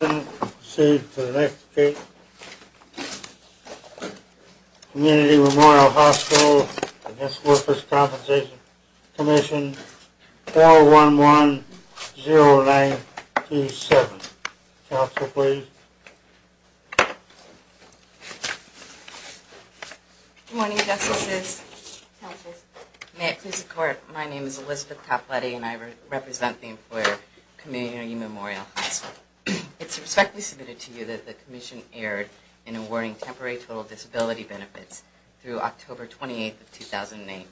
11-1-0-9-2-7. Community Memorial Hospital v. Workers' Compensation Comm'n, 4-1-1-0-9-2-7. Council, please. Good morning, Justices. May it please the Court, my name is Elizabeth Topletty and I represent the employer, Community Memorial Hospital. It's respectfully submitted to you that the Commission erred in awarding temporary total disability benefits through October 28, 2008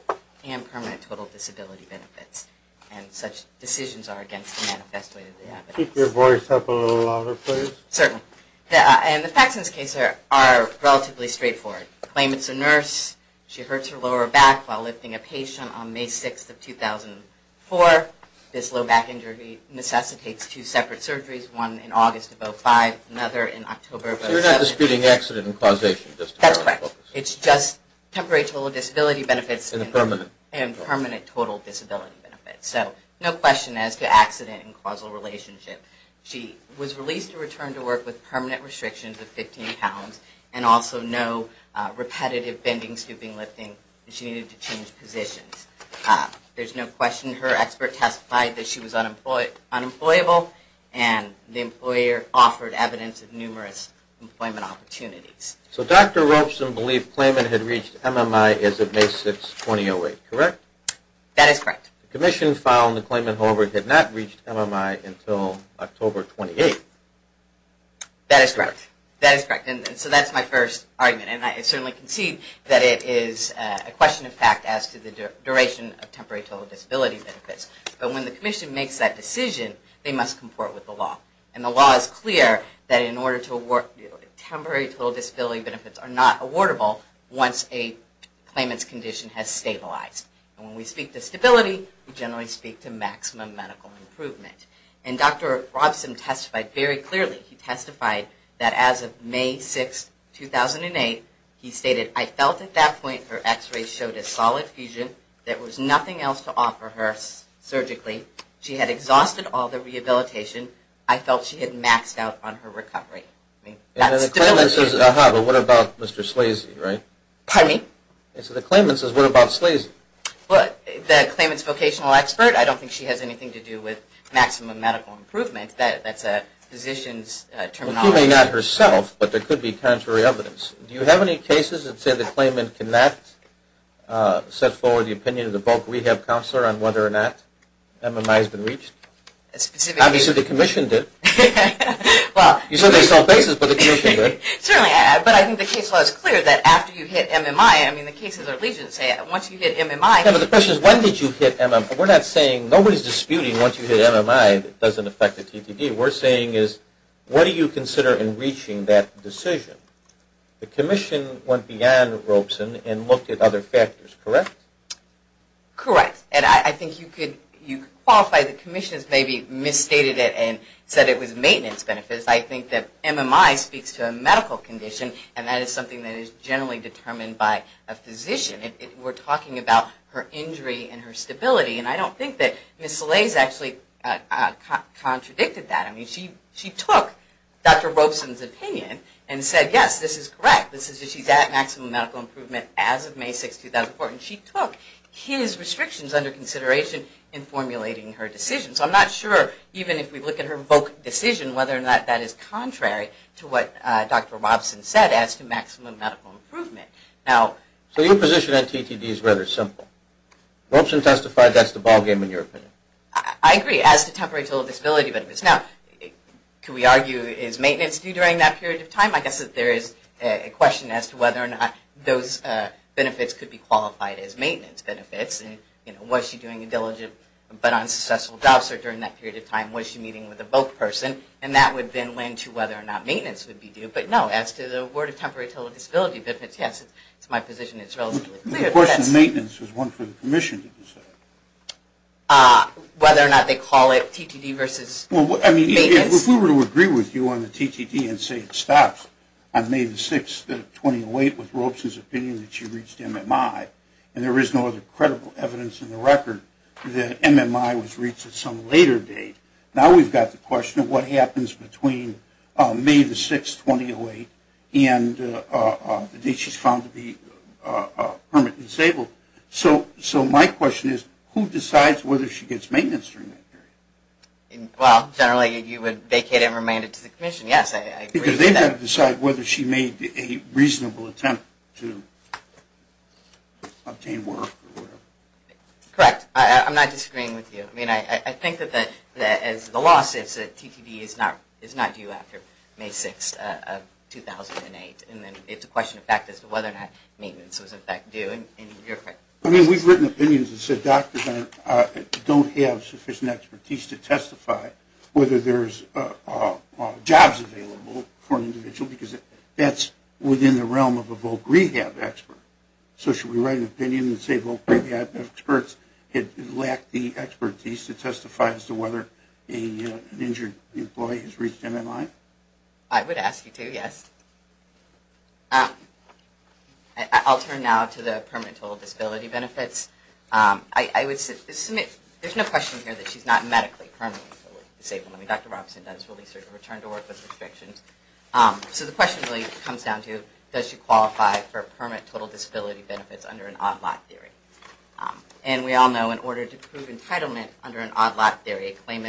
and permanent total disability benefits. And such decisions are against the manifest way that they happen. Keep your voice up a little louder, please. Certainly. And the facts in this case are relatively straightforward. Claim it's a nurse, she hurts her lower back while lifting a patient on May 6, 2004. This low back injury necessitates two separate surgeries, one in August of 2005 and another in October of 2007. So you're not disputing accident and causation? That's correct. It's just temporary total disability benefits and permanent total disability benefits. So no question as to accident and causal relationship. She was released to return to work with permanent restrictions of 15 pounds and also no repetitive bending, scooping, lifting. She needed to change positions. There's no question her expert testified that she was unemployable and the employer offered evidence of numerous employment opportunities. So Dr. Robson believed claimant had reached MMI as of May 6, 2008, correct? That is correct. The commission found the claimant, however, had not reached MMI until October 28. That is correct. That is correct. And so that's my first argument. And I certainly concede that it is a question of fact as to the duration of temporary total disability benefits. But when the commission makes that decision, they must comport with the law. And the law is clear that in order to award temporary total disability benefits are not awardable once a claimant's condition has stabilized. And when we speak to stability, we generally speak to maximum medical improvement. And Dr. Robson testified very clearly. He testified that as of May 6, 2008, he stated, I felt at that point her x-ray showed a solid fusion. There was nothing else to offer her surgically. She had exhausted all the rehabilitation. I felt she had maxed out on her recovery. And the claimant says, aha, but what about Mr. Slazy, right? Pardon me? And so the claimant says, what about Slazy? Well, the claimant's vocational expert, I don't think she has anything to do with maximum medical improvement. That's a physician's terminology. Well, she may not herself, but there could be contrary evidence. Do you have any cases that say the claimant cannot set forward the opinion of the bulk rehab counselor on whether or not MMI has been reached? A specific case. Obviously, the commission did. Well. You said there's no basis, but the commission did. Certainly. But I think the case law is clear that after you hit MMI, I mean, the cases are legion, say, once you hit MMI. No, but the question is, when did you hit MMI? We're not saying, nobody's disputing once you hit MMI that it doesn't affect the TTD. What we're saying is, what do you consider in reaching that decision? The commission went beyond Robson and looked at other factors, correct? Correct. And I think you could qualify the commission as maybe misstated it and said it was maintenance benefits. I think that MMI speaks to a medical condition, and that is something that is generally determined by a physician. We're talking about her injury and her stability. And I don't think that Ms. Salais actually contradicted that. I mean, she took Dr. Robson's opinion and said, yes, this is correct. This is that she's at maximum medical improvement as of May 6, 2004. And she took his restrictions under consideration in formulating her decision. So I'm not sure, even if we look at her VOC decision, whether or not that is contrary to what Dr. Robson said as to maximum medical improvement. So your position on TTD is rather simple. Robson testified that's the ballgame, in your opinion. I agree, as to temporary total disability benefits. Now, can we argue, is maintenance due during that period of time? I guess there is a question as to whether or not those benefits could be qualified as maintenance benefits. And, you know, was she doing a diligent but unsuccessful job search during that period of time? Was she meeting with a VOC person? And that would then lend to whether or not maintenance would be due. But, no, as to the word of temporary total disability benefits, yes, my position is relatively clear. The question of maintenance is one for the commission to decide. Whether or not they call it TTD versus maintenance? Well, I mean, if we were to agree with you on the TTD and say it stops on May 6, 2008, with Robson's opinion that she reached MMI, and there is no other credible evidence in the record that MMI was reached at some later date, now we've got the question of what happens between May 6, 2008 and the date she's found to be permanently disabled. So my question is, who decides whether she gets maintenance during that period? Well, generally you would vacate and remand it to the commission, yes. Because they've got to decide whether she made a reasonable attempt to obtain work or whatever. Correct. I'm not disagreeing with you. I mean, I think that as the law says that TTD is not due after May 6, 2008, and then it's a question of fact as to whether or not maintenance was, in fact, due. I mean, we've written opinions that said doctors don't have sufficient expertise to testify whether there's jobs available for an individual, because that's within the realm of a voc rehab expert. So should we write an opinion and say voc rehab experts lack the expertise to testify as to whether an injured employee has reached MMI? I would ask you to, yes. I'll turn now to the permanent total disability benefits. There's no question here that she's not medically permanently disabled. I mean, Dr. Robinson does release her to return to work with restrictions. So the question really comes down to does she qualify for permanent total disability benefits under an odd lot theory? And we all know in order to prove entitlement under an odd lot theory, one,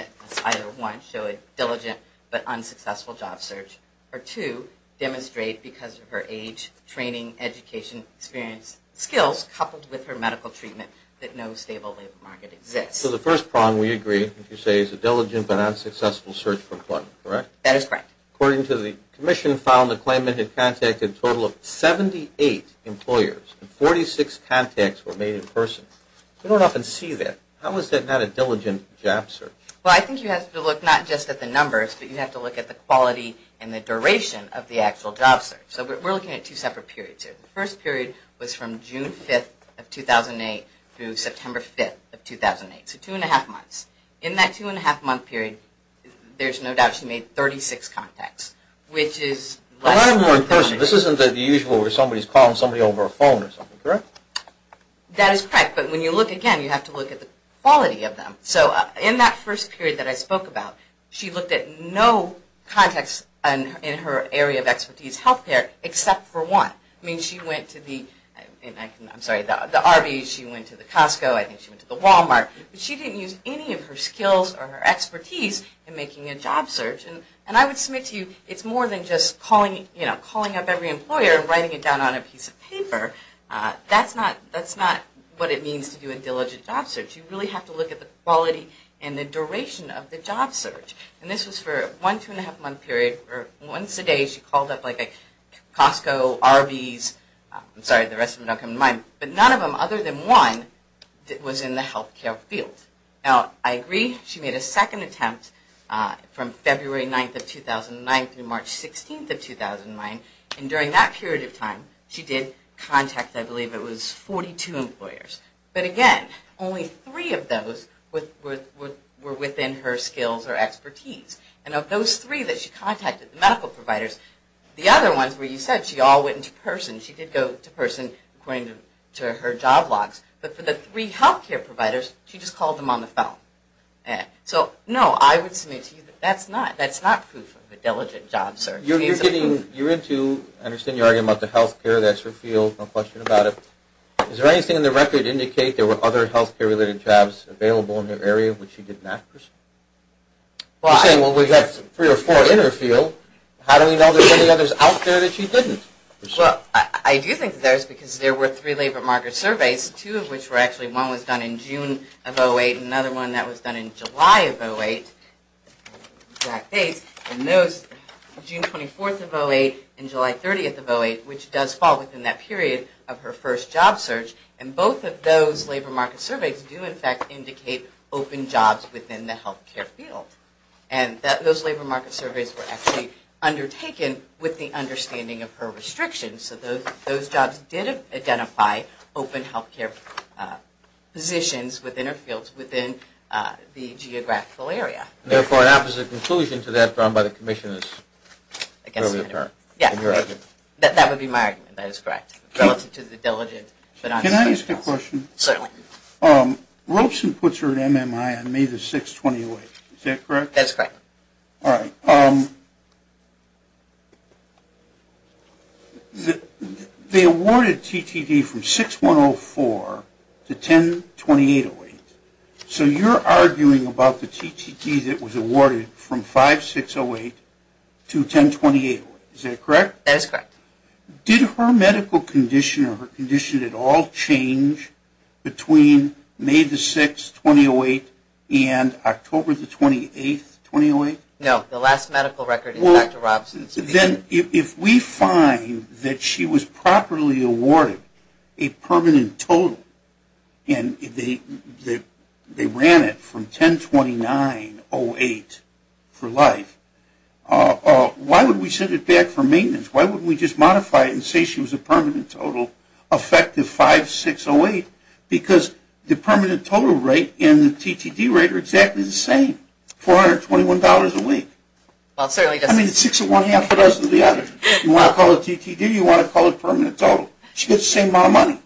show a diligent but unsuccessful job search, or two, demonstrate because of her age, training, education, experience, skills, coupled with her medical treatment that no stable labor market exists. So the first prong, we agree, if you say is a diligent but unsuccessful search for employment, correct? That is correct. According to the commission file, the claimant had contacted a total of 78 employers, and 46 contacts were made in person. We don't often see that. How is that not a diligent job search? Well, I think you have to look not just at the numbers, but you have to look at the quality and the duration of the actual job search. So we're looking at two separate periods here. The first period was from June 5th of 2008 through September 5th of 2008, so two and a half months. In that two and a half month period, there's no doubt she made 36 contacts, which is less than 30. This isn't the usual where somebody's calling somebody over a phone or something, correct? That is correct, but when you look again, you have to look at the quality of them. So in that first period that I spoke about, she looked at no contacts in her area of expertise, healthcare, except for one. I mean, she went to the Arby's, she went to the Costco, I think she went to the Walmart, but she didn't use any of her skills or her expertise in making a job search. And I would submit to you, it's more than just calling up every employer and writing it down on a piece of paper. That's not what it means to do a diligent job search. You really have to look at the quality and the duration of the job search. And this was for one two and a half month period where once a day she called up like a Costco, Arby's, I'm sorry, the rest of them don't come to mind, but none of them other than one was in the healthcare field. Now, I agree she made a second attempt from February 9th of 2009 through March 16th of 2009, and during that period of time she did contact I believe it was 42 employers. But again, only three of those were within her skills or expertise. And of those three that she contacted, the medical providers, the other ones where you said she all went into person, she did go to person according to her job logs, but for the three healthcare providers she just called them on the phone. So no, I would submit to you that's not proof of a diligent job search. You're getting, you're into, I understand you're arguing about the healthcare, that's her field, no question about it. Is there anything in the record indicate there were other healthcare related jobs available in her area which she didn't ask for? You're saying well we have three or four in her field, how do we know there's any others out there that she didn't? Well, I do think there is because there were three labor market surveys, two of which were actually, one was done in June of 2008 and another one that was done in July of 2008. And those, June 24th of 2008 and July 30th of 2008, which does fall within that period of her first job search, and both of those labor market surveys do in fact indicate open jobs within the healthcare field. And those labor market surveys were actually undertaken with the understanding of her restrictions. So those jobs did identify open healthcare positions within her fields within the geographical area. And therefore an opposite conclusion to that drawn by the commission is clearly apparent in your argument. That would be my argument, that is correct, relative to the diligent. Can I ask a question? Certainly. Robeson puts her at MMI on May the 6th, 2008, is that correct? That's correct. All right. They awarded TTD from 6-1-0-4 to 10-28-08. So you're arguing about the TTD that was awarded from 5-6-0-8 to 10-28-08, is that correct? That's correct. Did her medical condition or her condition at all change between May the 6th, 2008, and October the 28th, 2008? No. The last medical record is Dr. Robeson's. Then if we find that she was properly awarded a permanent total and they ran it from 10-29-08 for life, why would we send it back for maintenance? Why wouldn't we just modify it and say she was a permanent total, effective 5-6-0-8? Because the permanent total rate and the TTD rate are exactly the same, $421 a week. Well, it certainly doesn't... I mean, it's 6-1-1-2-0-0-0. You want to call it TTD, you want to call it permanent total. She gets the same amount of money.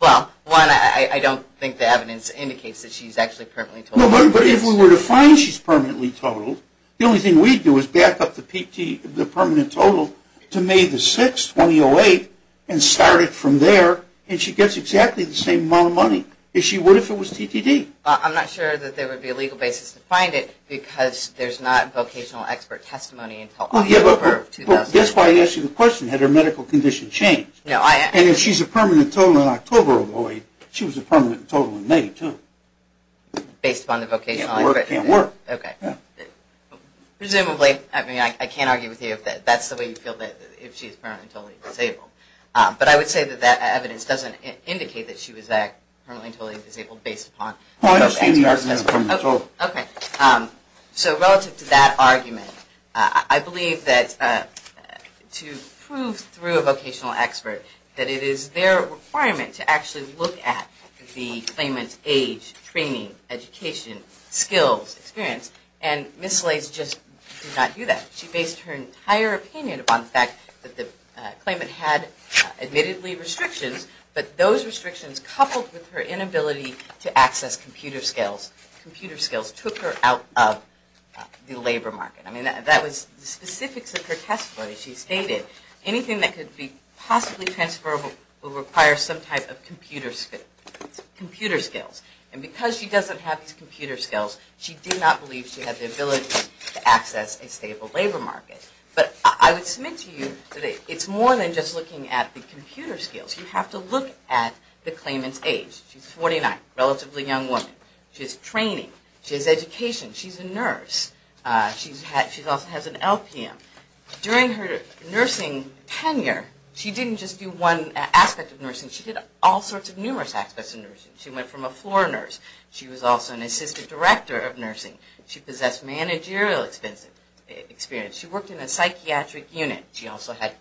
Well, one, I don't think the evidence indicates that she's actually permanently totaled. No, but if we were to find she's permanently totaled, the only thing we'd do is back up the permanent total to May the 6th, 2008, and start it from there, and she gets exactly the same amount of money as she would if it was TTD. Well, I'm not sure that there would be a legal basis to find it because there's not vocational expert testimony until October of 2008. That's why I asked you the question, had her medical condition changed. And if she's a permanent total in October of 2008, she was a permanent total in May, too. Based upon the vocational... Can't work, can't work. Okay. Presumably, I mean, I can't argue with you if that's the way you feel, that if she's permanently totally disabled. But I would say that that evidence doesn't indicate that she was permanently totally disabled based upon... Well, I understand the argument from October. Okay. So, relative to that argument, I believe that to prove through a vocational expert that it is their requirement to actually look at the claimant's age, training, education, skills, experience. And Ms. Lace just did not do that. She based her entire opinion upon the fact that the claimant had admittedly restrictions, but those restrictions coupled with her inability to access computer skills, computer skills took her out of the labor market. I mean, that was the specifics of her testimony. She stated anything that could be possibly transferable will require some type of computer skills. And because she doesn't have these computer skills, she did not believe she had the ability to access a stable labor market. But I would submit to you that it's more than just looking at the computer skills. You have to look at the claimant's age. She's 49, relatively young woman. She has training. She has education. She's a nurse. She also has an LPM. During her nursing tenure, she didn't just do one aspect of nursing. She did all sorts of numerous aspects of nursing. She went from a floor nurse. She was also an assistant director of nursing. She possessed managerial experience. She worked in a psychiatric unit. She also had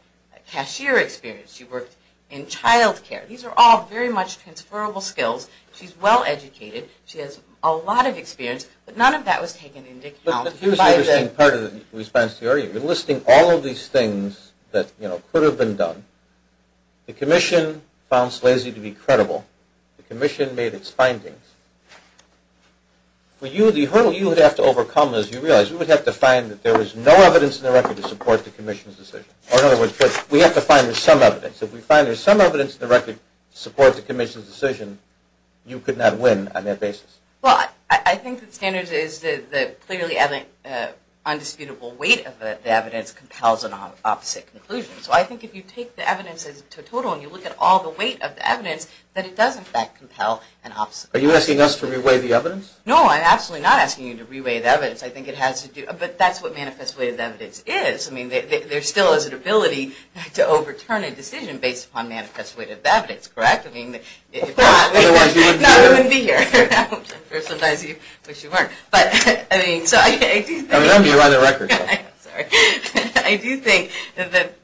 cashier experience. She worked in child care. These are all very much transferable skills. She's well educated. She has a lot of experience, but none of that was taken into account. Here's the interesting part of the response to your area. You're listing all of these things that could have been done. The commission found Slazy to be credible. The commission made its findings. For you, the hurdle you would have to overcome is you realize you would have to find that there was no evidence in the record to support the commission's decision. Or in other words, we have to find there's some evidence. If we find there's some evidence in the record to support the commission's decision, you could not win on that basis. Well, I think the standard is that clearly undisputable weight of the evidence compels an opposite conclusion. So I think if you take the evidence as a total and you look at all the weight of the evidence, that it does, in fact, compel an opposite conclusion. Are you asking us to re-weigh the evidence? No, I'm absolutely not asking you to re-weigh the evidence. I think it has to do – but that's what manifest weighted evidence is. I mean, there still is an ability to overturn a decision based upon manifest weighted evidence, correct? Of course, otherwise we wouldn't be here. No, we wouldn't be here. I mean, so I do think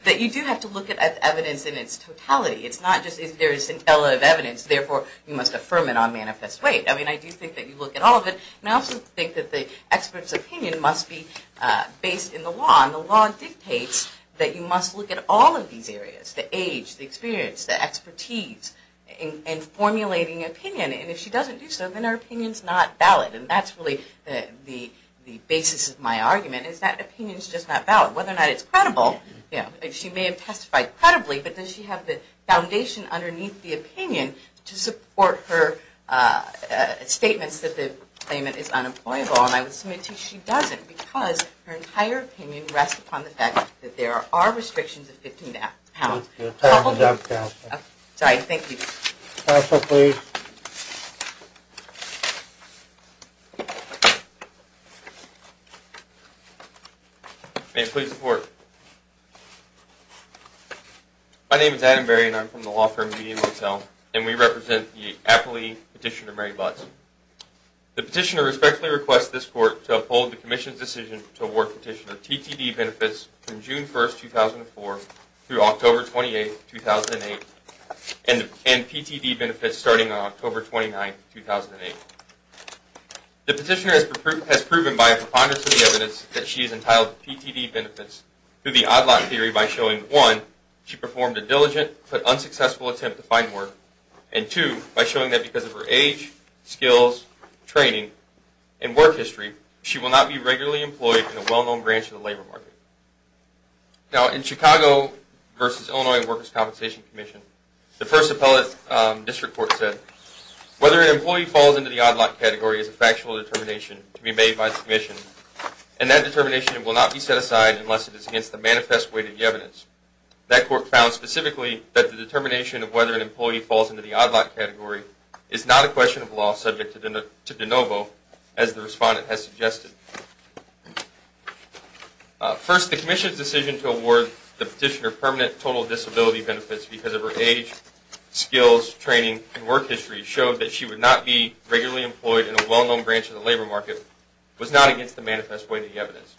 that you do have to look at the evidence in its totality. It's not just if there is intelligible evidence, therefore you must affirm it on manifest weight. I mean, I do think that you look at all of it. And I also think that the expert's opinion must be based in the law. And the law dictates that you must look at all of these areas – the age, the experience, the expertise – in formulating opinion. And if she doesn't do so, then her opinion is not valid. And that's really the basis of my argument, is that opinion is just not valid. Whether or not it's credible – she may have testified credibly, but does she have the foundation underneath the opinion to support her statements that the claimant is unemployable? And I would submit to you she doesn't, because her entire opinion rests upon the fact that there are restrictions of 15 pounds. Your time is up, Counselor. Sorry, thank you. Counselor, please. May I please report? My name is Adam Berry, and I'm from the law firm Median Motel. And we represent the affiliate petitioner, Mary Butts. The petitioner respectfully requests this Court to uphold the Commission's decision to award petitioner TTD benefits from June 1, 2004 through October 28, 2008, and PTD benefits starting on October 29, 2008. The petitioner has proven by a preponderance of the evidence that she has entitled PTD benefits through the odd lot theory by showing, one, she performed a diligent but unsuccessful attempt to find work, and two, by showing that because of her age, skills, training, and work history, she will not be regularly employed in a well-known branch of the labor market. Now, in Chicago v. Illinois Workers' Compensation Commission, the first appellate district court said, Whether an employee falls into the odd lot category is a factual determination to be made by the Commission, and that determination will not be set aside unless it is against the manifest weight of the evidence. That court found specifically that the determination of whether an employee falls into the odd lot category is not a question of law subject to de novo, as the respondent has suggested. First, the Commission's decision to award the petitioner permanent total disability benefits because of her age, skills, training, and work history showed that she would not be regularly employed in a well-known branch of the labor market was not against the manifest weight of the evidence.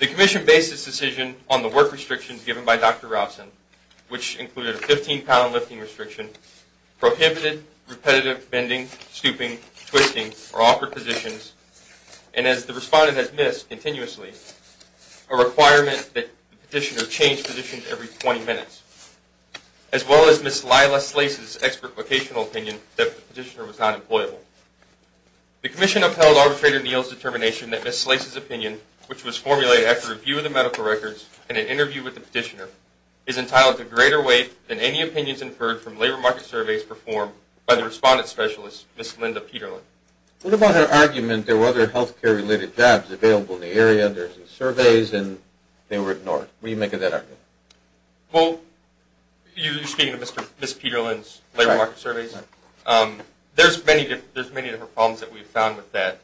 The Commission based its decision on the work restrictions given by Dr. Robson, which included a 15-pound lifting restriction, prohibited repetitive bending, stooping, twisting, or awkward positions, and, as the respondent has missed continuously, a requirement that the petitioner change positions every 20 minutes, as well as Ms. Lila Slase's expert vocational opinion that the petitioner was not employable. The Commission upheld Arbitrator Neal's determination that Ms. Slase's opinion, which was formulated after a review of the medical records and an interview with the petitioner, is entitled to greater weight than any opinions inferred from labor market surveys performed by the respondent specialist, Ms. Linda Peterlin. What about her argument that there were other healthcare-related jobs available in the area, there were surveys, and they were ignored? What do you make of that argument? Well, you're speaking of Ms. Peterlin's labor market surveys? Right. There's many different problems that we've found with that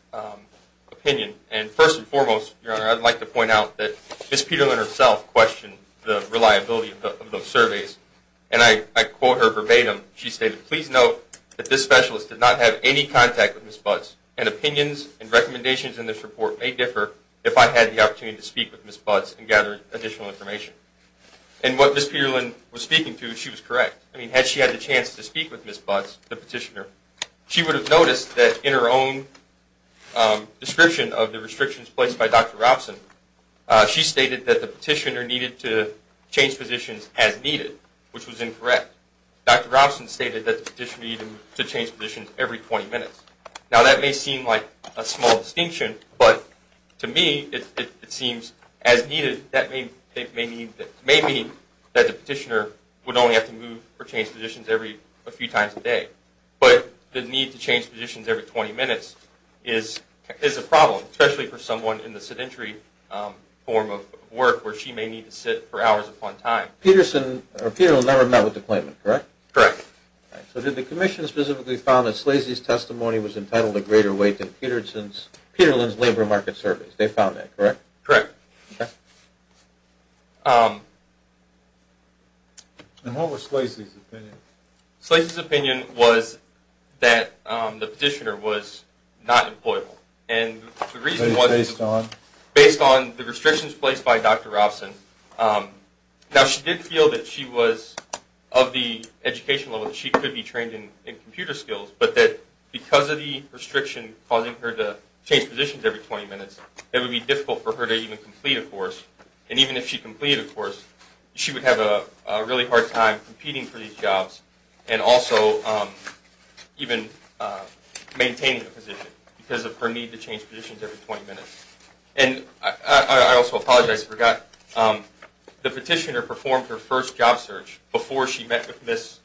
opinion, and first and foremost, Your Honor, I'd like to point out that Ms. Peterlin herself questioned the reliability of those surveys. And I quote her verbatim. She stated, Please note that this specialist did not have any contact with Ms. Butts, and opinions and recommendations in this report may differ if I had the opportunity to speak with Ms. Butts and gather additional information. And what Ms. Peterlin was speaking to, she was correct. I mean, had she had the chance to speak with Ms. Butts, the petitioner, she would have noticed that in her own description of the restrictions placed by Dr. Robson, she stated that the petitioner needed to change positions as needed. Which was incorrect. Dr. Robson stated that the petitioner needed to change positions every 20 minutes. Now, that may seem like a small distinction, but to me, it seems as needed. That may mean that the petitioner would only have to move or change positions a few times a day. But the need to change positions every 20 minutes is a problem, especially for someone in the sedentary form of work where she may need to sit for hours upon time. Peterson, or Peterlin, never met with the claimant, correct? Correct. So did the commission specifically found that Slazy's testimony was entitled to greater weight than Peterlin's labor market surveys? They found that, correct? Correct. And what was Slazy's opinion? Slazy's opinion was that the petitioner was not employable. Based on? Based on the restrictions placed by Dr. Robson. Now, she did feel that she was of the educational level that she could be trained in computer skills. But that because of the restriction causing her to change positions every 20 minutes, it would be difficult for her to even complete a course. And even if she completed a course, she would have a really hard time competing for these jobs. And also, even maintaining a position because of her need to change positions every 20 minutes. And I also apologize, I forgot. The petitioner performed her first job search before she met with Ms.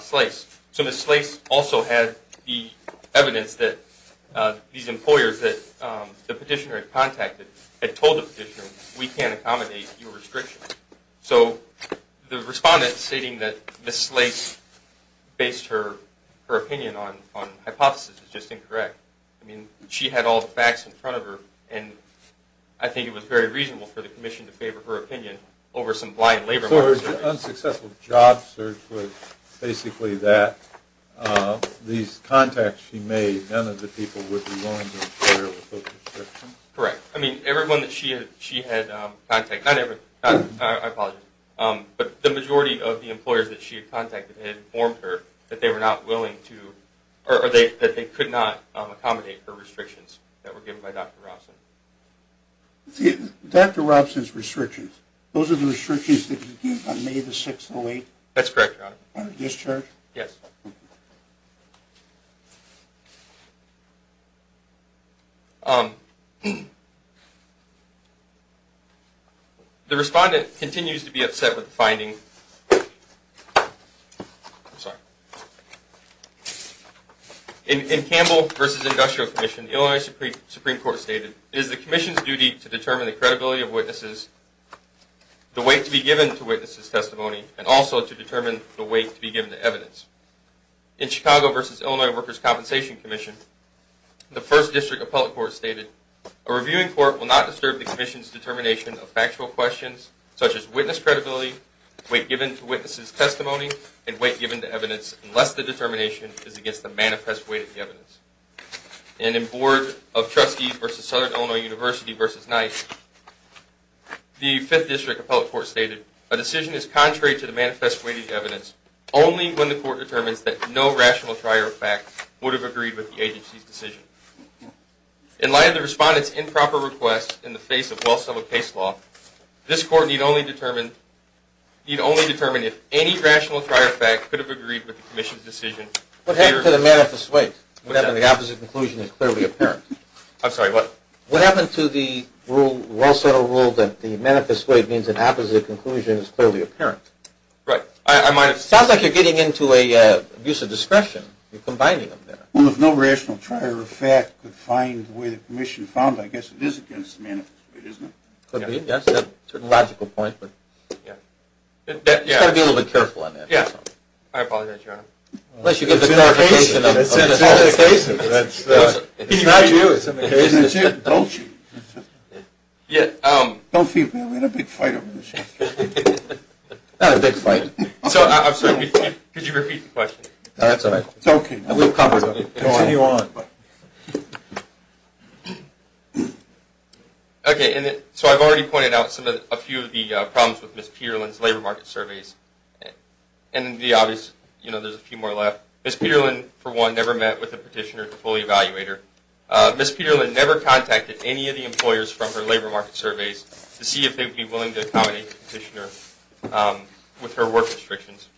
Slace. So Ms. Slace also had the evidence that these employers that the petitioner had contacted had told the petitioner, we can't accommodate your restriction. So the respondent stating that Ms. Slace based her opinion on hypothesis is just incorrect. I mean, she had all the facts in front of her. And I think it was very reasonable for the commission to favor her opinion over some blind labor market. So her unsuccessful job search was basically that. These contacts she made, none of the people would be willing to employ her with those restrictions? Correct. I mean, everyone that she had contacted, not everyone, I apologize. But the majority of the employers that she had contacted had informed her that they were not willing to, or that they could not accommodate her restrictions that were given by Dr. Robson. Dr. Robson's restrictions, those are the restrictions that he gave on May 6, 2008? That's correct, Your Honor. On a discharge? Yes. Thank you. The respondent continues to be upset with the finding. I'm sorry. In Campbell v. Industrial Commission, Illinois Supreme Court stated, it is the commission's duty to determine the credibility of witnesses, the weight to be given to witnesses' testimony, and also to determine the weight to be given to evidence. In Chicago v. Illinois Workers' Compensation Commission, the 1st District Appellate Court stated, a reviewing court will not disturb the commission's determination of factual questions, such as witness credibility, weight given to witnesses' testimony, and weight given to evidence, and in Board of Trustees v. Southern Illinois University v. NICE, the 5th District Appellate Court stated, a decision is contrary to the manifest weight of evidence only when the court determines that no rational prior fact would have agreed with the agency's decision. In light of the respondent's improper request in the face of well-submitted case law, this court need only determine if any rational prior fact could have agreed with the commission's decision. What happened to the manifest weight? The opposite conclusion is clearly apparent. I'm sorry, what? What happened to the well-settled rule that the manifest weight means an opposite conclusion is clearly apparent? Right. It sounds like you're getting into an abuse of discretion. You're combining them there. Well, if no rational prior fact could find the way the commission found it, I guess it is against the manifest weight, isn't it? Could be, yes. That's a logical point, but you've got to be a little bit careful on that. Yes. I apologize, Your Honor. It's in our case. It's in the case. It's not you. It's in the case. It's you. Don't you. Yeah. Don't feel bad. We had a big fight over this. Not a big fight. I'm sorry. Could you repeat the question? No, that's all right. It's okay. We've covered it. Go on. Continue on. Okay. So I've already pointed out a few of the problems with Ms. Peerlin's labor market surveys. And the obvious, you know, there's a few more left. Ms. Peerlin, for one, never met with the petitioner, the fully evaluator. Ms. Peerlin never contacted any of the employers from her labor market surveys to see if they would be willing to accommodate the petitioner with her work restrictions.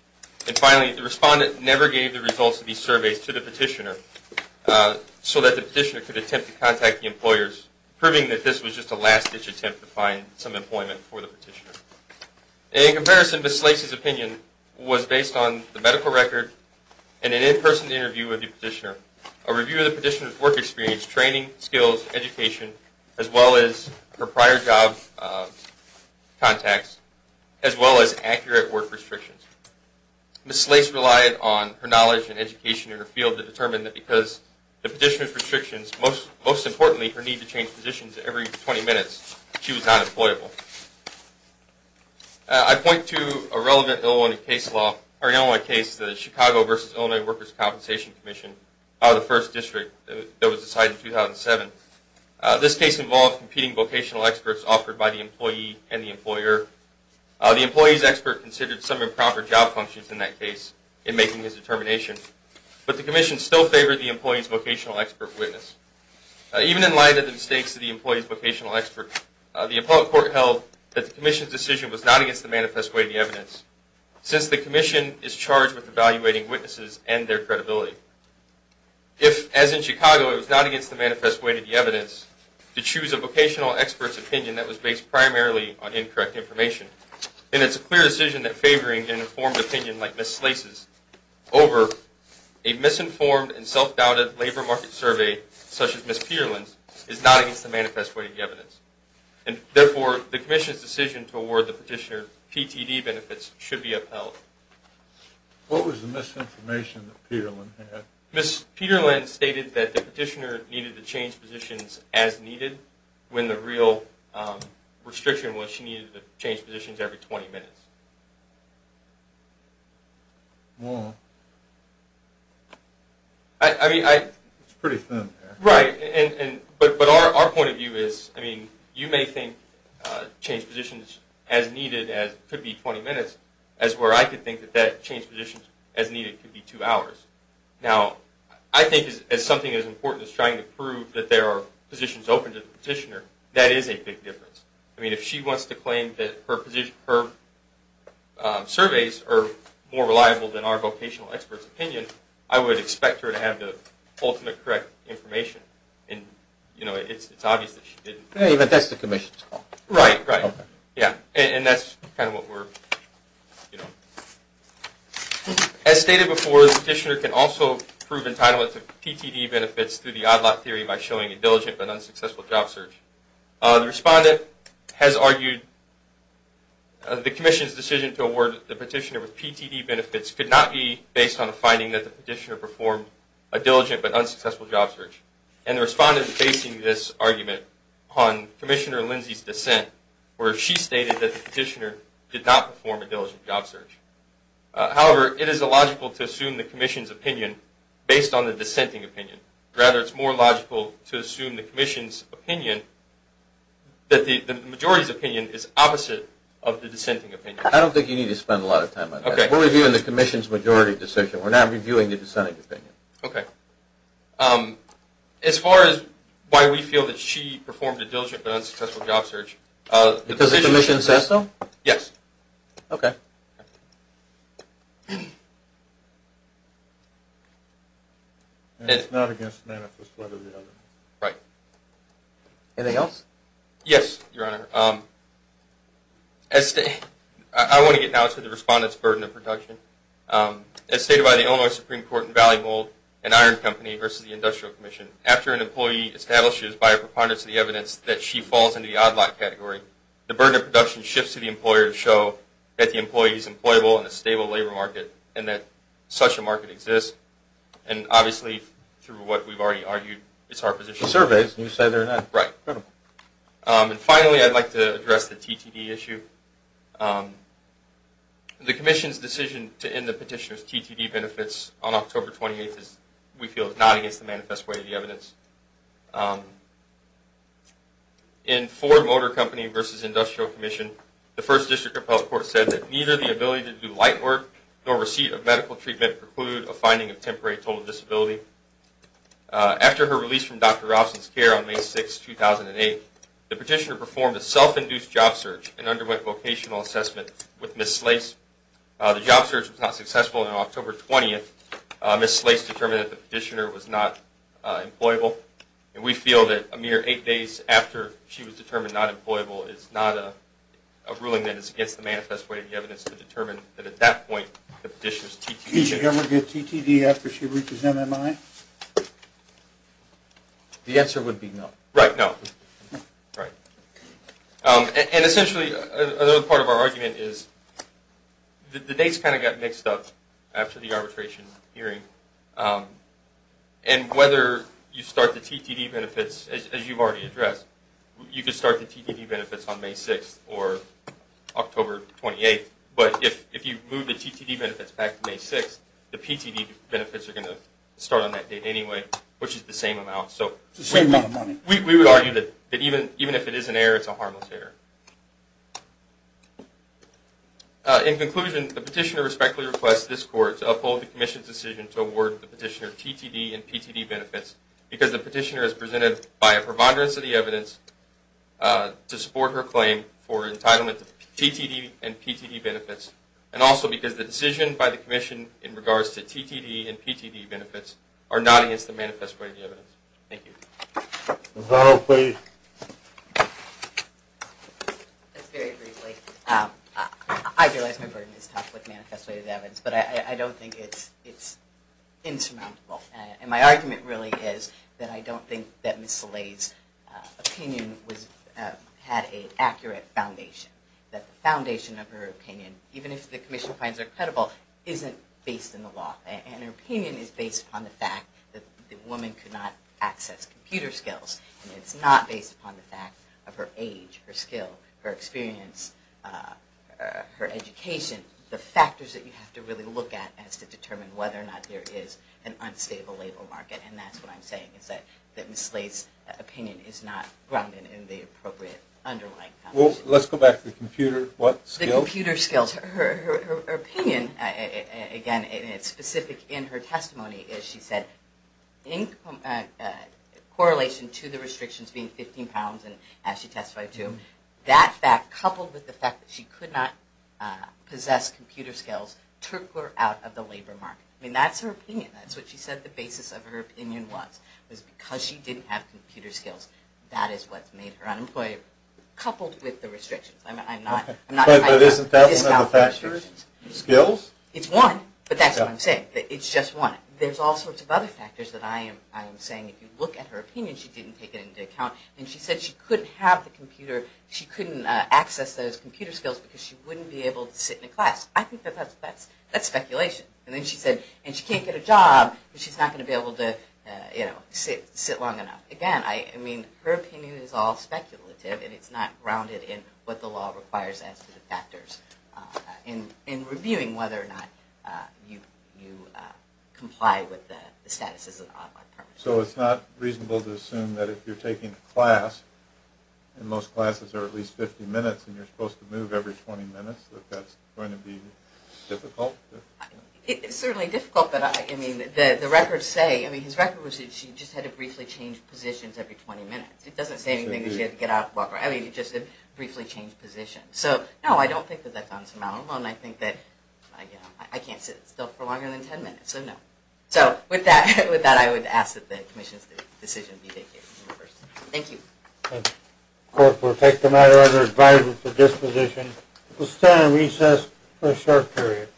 And finally, the respondent never gave the results of these surveys to the petitioner so that the petitioner could attempt to contact the employers, proving that this was just a last-ditch attempt to find some employment for the petitioner. In comparison, Ms. Slase's opinion was based on the medical record and an in-person interview with the petitioner, a review of the petitioner's work experience, training, skills, education, as well as her prior job contacts, as well as accurate work restrictions. Ms. Slase relied on her knowledge and education in her field to determine that because of the petitioner's restrictions, most importantly, her need to change positions every 20 minutes, she was not employable. I point to a relevant Illinois case law, or an Illinois case, the Chicago v. Illinois Workers' Compensation Commission, the first district that was decided in 2007. This case involved competing vocational experts offered by the employee and the employer. The employee's expert considered some improper job functions in that case in making his determination. But the commission still favored the employee's vocational expert witness. Even in light of the mistakes of the employee's vocational expert, the appellate court held that the commission's decision was not against the manifest way of the evidence, since the commission is charged with evaluating witnesses and their credibility. If, as in Chicago, it was not against the manifest way of the evidence, to choose a vocational expert's opinion that was based primarily on incorrect information, then it's a clear decision that favoring an informed opinion like Ms. Slase's over a misinformed and self-doubted labor market survey such as Ms. Peterlin's is not against the manifest way of the evidence. Therefore, the commission's decision to award the petitioner PTD benefits should be upheld. What was the misinformation that Peterlin had? Ms. Peterlin stated that the petitioner needed to change positions as needed when the real restriction was she needed to change positions every 20 minutes. It's pretty thin there. Right, but our point of view is you may think change positions as needed could be 20 minutes, as where I could think that change positions as needed could be two hours. Now, I think as something as important as trying to prove that there are positions open to the petitioner, that is a big difference. I mean, if she wants to claim that her surveys are more reliable than our vocational expert's opinion, I would expect her to have the ultimate correct information, and it's obvious that she didn't. Even if that's the commission's call. Right, right. Okay. Yeah, and that's kind of what we're, you know. As stated before, the petitioner can also prove entitlement to PTD benefits through the odd lot theory by showing a diligent but unsuccessful job search. The respondent has argued the commission's decision to award the petitioner with PTD benefits could not be based on the finding that the petitioner performed a diligent but unsuccessful job search. And the respondent is basing this argument on Commissioner Lindsay's dissent, where she stated that the petitioner did not perform a diligent job search. However, it is illogical to assume the commission's opinion based on the dissenting opinion. Rather, it's more logical to assume the commission's opinion, that the majority's opinion, is opposite of the dissenting opinion. I don't think you need to spend a lot of time on that. We're reviewing the commission's majority decision. We're not reviewing the dissenting opinion. Okay. As far as why we feel that she performed a diligent but unsuccessful job search. Because the commission says so? Yes. Okay. And it's not against manifest letter the other. Right. Anything else? Yes, Your Honor. I want to get now to the respondent's burden of protection. As stated by the Illinois Supreme Court in Valley Mold and Iron Company versus the Industrial Commission, after an employee establishes by a preponderance of the evidence that she falls into the odd lot category, the burden of production shifts to the employer to show that the employee is employable in a stable labor market and that such a market exists. And obviously, through what we've already argued, it's our position. The surveys, you say they're not credible. Right. And finally, I'd like to address the TTD issue. The commission's decision to end the petitioner's TTD benefits on October 28th, we feel is not against the manifest way of the evidence. In Ford Motor Company versus Industrial Commission, the First District Appellate Court said that neither the ability to do light work nor receipt of medical treatment preclude a finding of temporary total disability. After her release from Dr. Robson's care on May 6, 2008, the petitioner performed a self-induced job search and underwent vocational assessment with Ms. Slase. The job search was not successful. On October 20th, Ms. Slase determined that the petitioner was not employable. And we feel that a mere eight days after she was determined not employable is not a ruling that is against the manifest way of the evidence to determine that at that point the petitioner's TTD. Did she ever get TTD after she reaches MMI? The answer would be no. Right. No. Right. And essentially, another part of our argument is the dates kind of got mixed up after the arbitration hearing. And whether you start the TTD benefits, as you've already addressed, you could start the TTD benefits on May 6th or October 28th. But if you move the TTD benefits back to May 6th, the PTD benefits are going to start on that date anyway, which is the same amount. It's the same amount of money. We would argue that even if it is an error, it's a harmless error. In conclusion, the petitioner respectfully requests this court to uphold the commission's decision to award the petitioner TTD and PTD benefits because the petitioner is presented by a promoderance of the evidence to support her claim for entitlement to TTD and PTD benefits, and also because the decision by the commission in regards to TTD and PTD benefits are not against the manifest way of the evidence. Thank you. Ms. Arnold, please. Just very briefly. I realize my burden is tough with manifest way of the evidence, but I don't think it's insurmountable. And my argument really is that I don't think that Ms. Soleil's opinion had an accurate foundation, that the foundation of her opinion, even if the commission finds her credible, isn't based in the law. And her opinion is based upon the fact that the woman could not access computer skills. And it's not based upon the fact of her age, her skill, her experience, her education, the factors that you have to really look at as to determine whether or not there is an unstable labor market. And that's what I'm saying, is that Ms. Soleil's opinion is not grounded in the appropriate underlying foundation. Well, let's go back to the computer what? The computer skills. Her opinion, again, and it's specific in her testimony, is she said in correlation to the restrictions being 15 pounds, and as she testified too, that fact coupled with the fact that she could not possess computer skills took her out of the labor market. I mean, that's her opinion. That's what she said the basis of her opinion was, was because she didn't have computer skills. That is what made her unemployed, coupled with the restrictions. But isn't that another factor? Skills? It's one, but that's what I'm saying. It's just one. There's all sorts of other factors that I am saying. If you look at her opinion, she didn't take it into account. And she said she couldn't have the computer, she couldn't access those computer skills because she wouldn't be able to sit in a class. I think that that's speculation. And then she said, and she can't get a job because she's not going to be able to sit long enough. Again, I mean, her opinion is all speculative, and it's not grounded in what the law requires as to the factors. In reviewing whether or not you comply with the statuses of the unemployed. So it's not reasonable to assume that if you're taking a class, and most classes are at least 50 minutes, and you're supposed to move every 20 minutes, that that's going to be difficult? It's certainly difficult, but I mean, the records say, I mean, his record was that she just had to briefly change positions every 20 minutes. It doesn't say anything that she had to get out and walk around. I mean, she just had to briefly change positions. So, no, I don't think that that's unsurmountable. And I think that, you know, I can't sit still for longer than 10 minutes. So, no. So, with that, I would ask that the commission's decision be taken. Thank you. Thank you. Court, we'll take the matter under advisory for disposition. We'll stand on recess for a short period.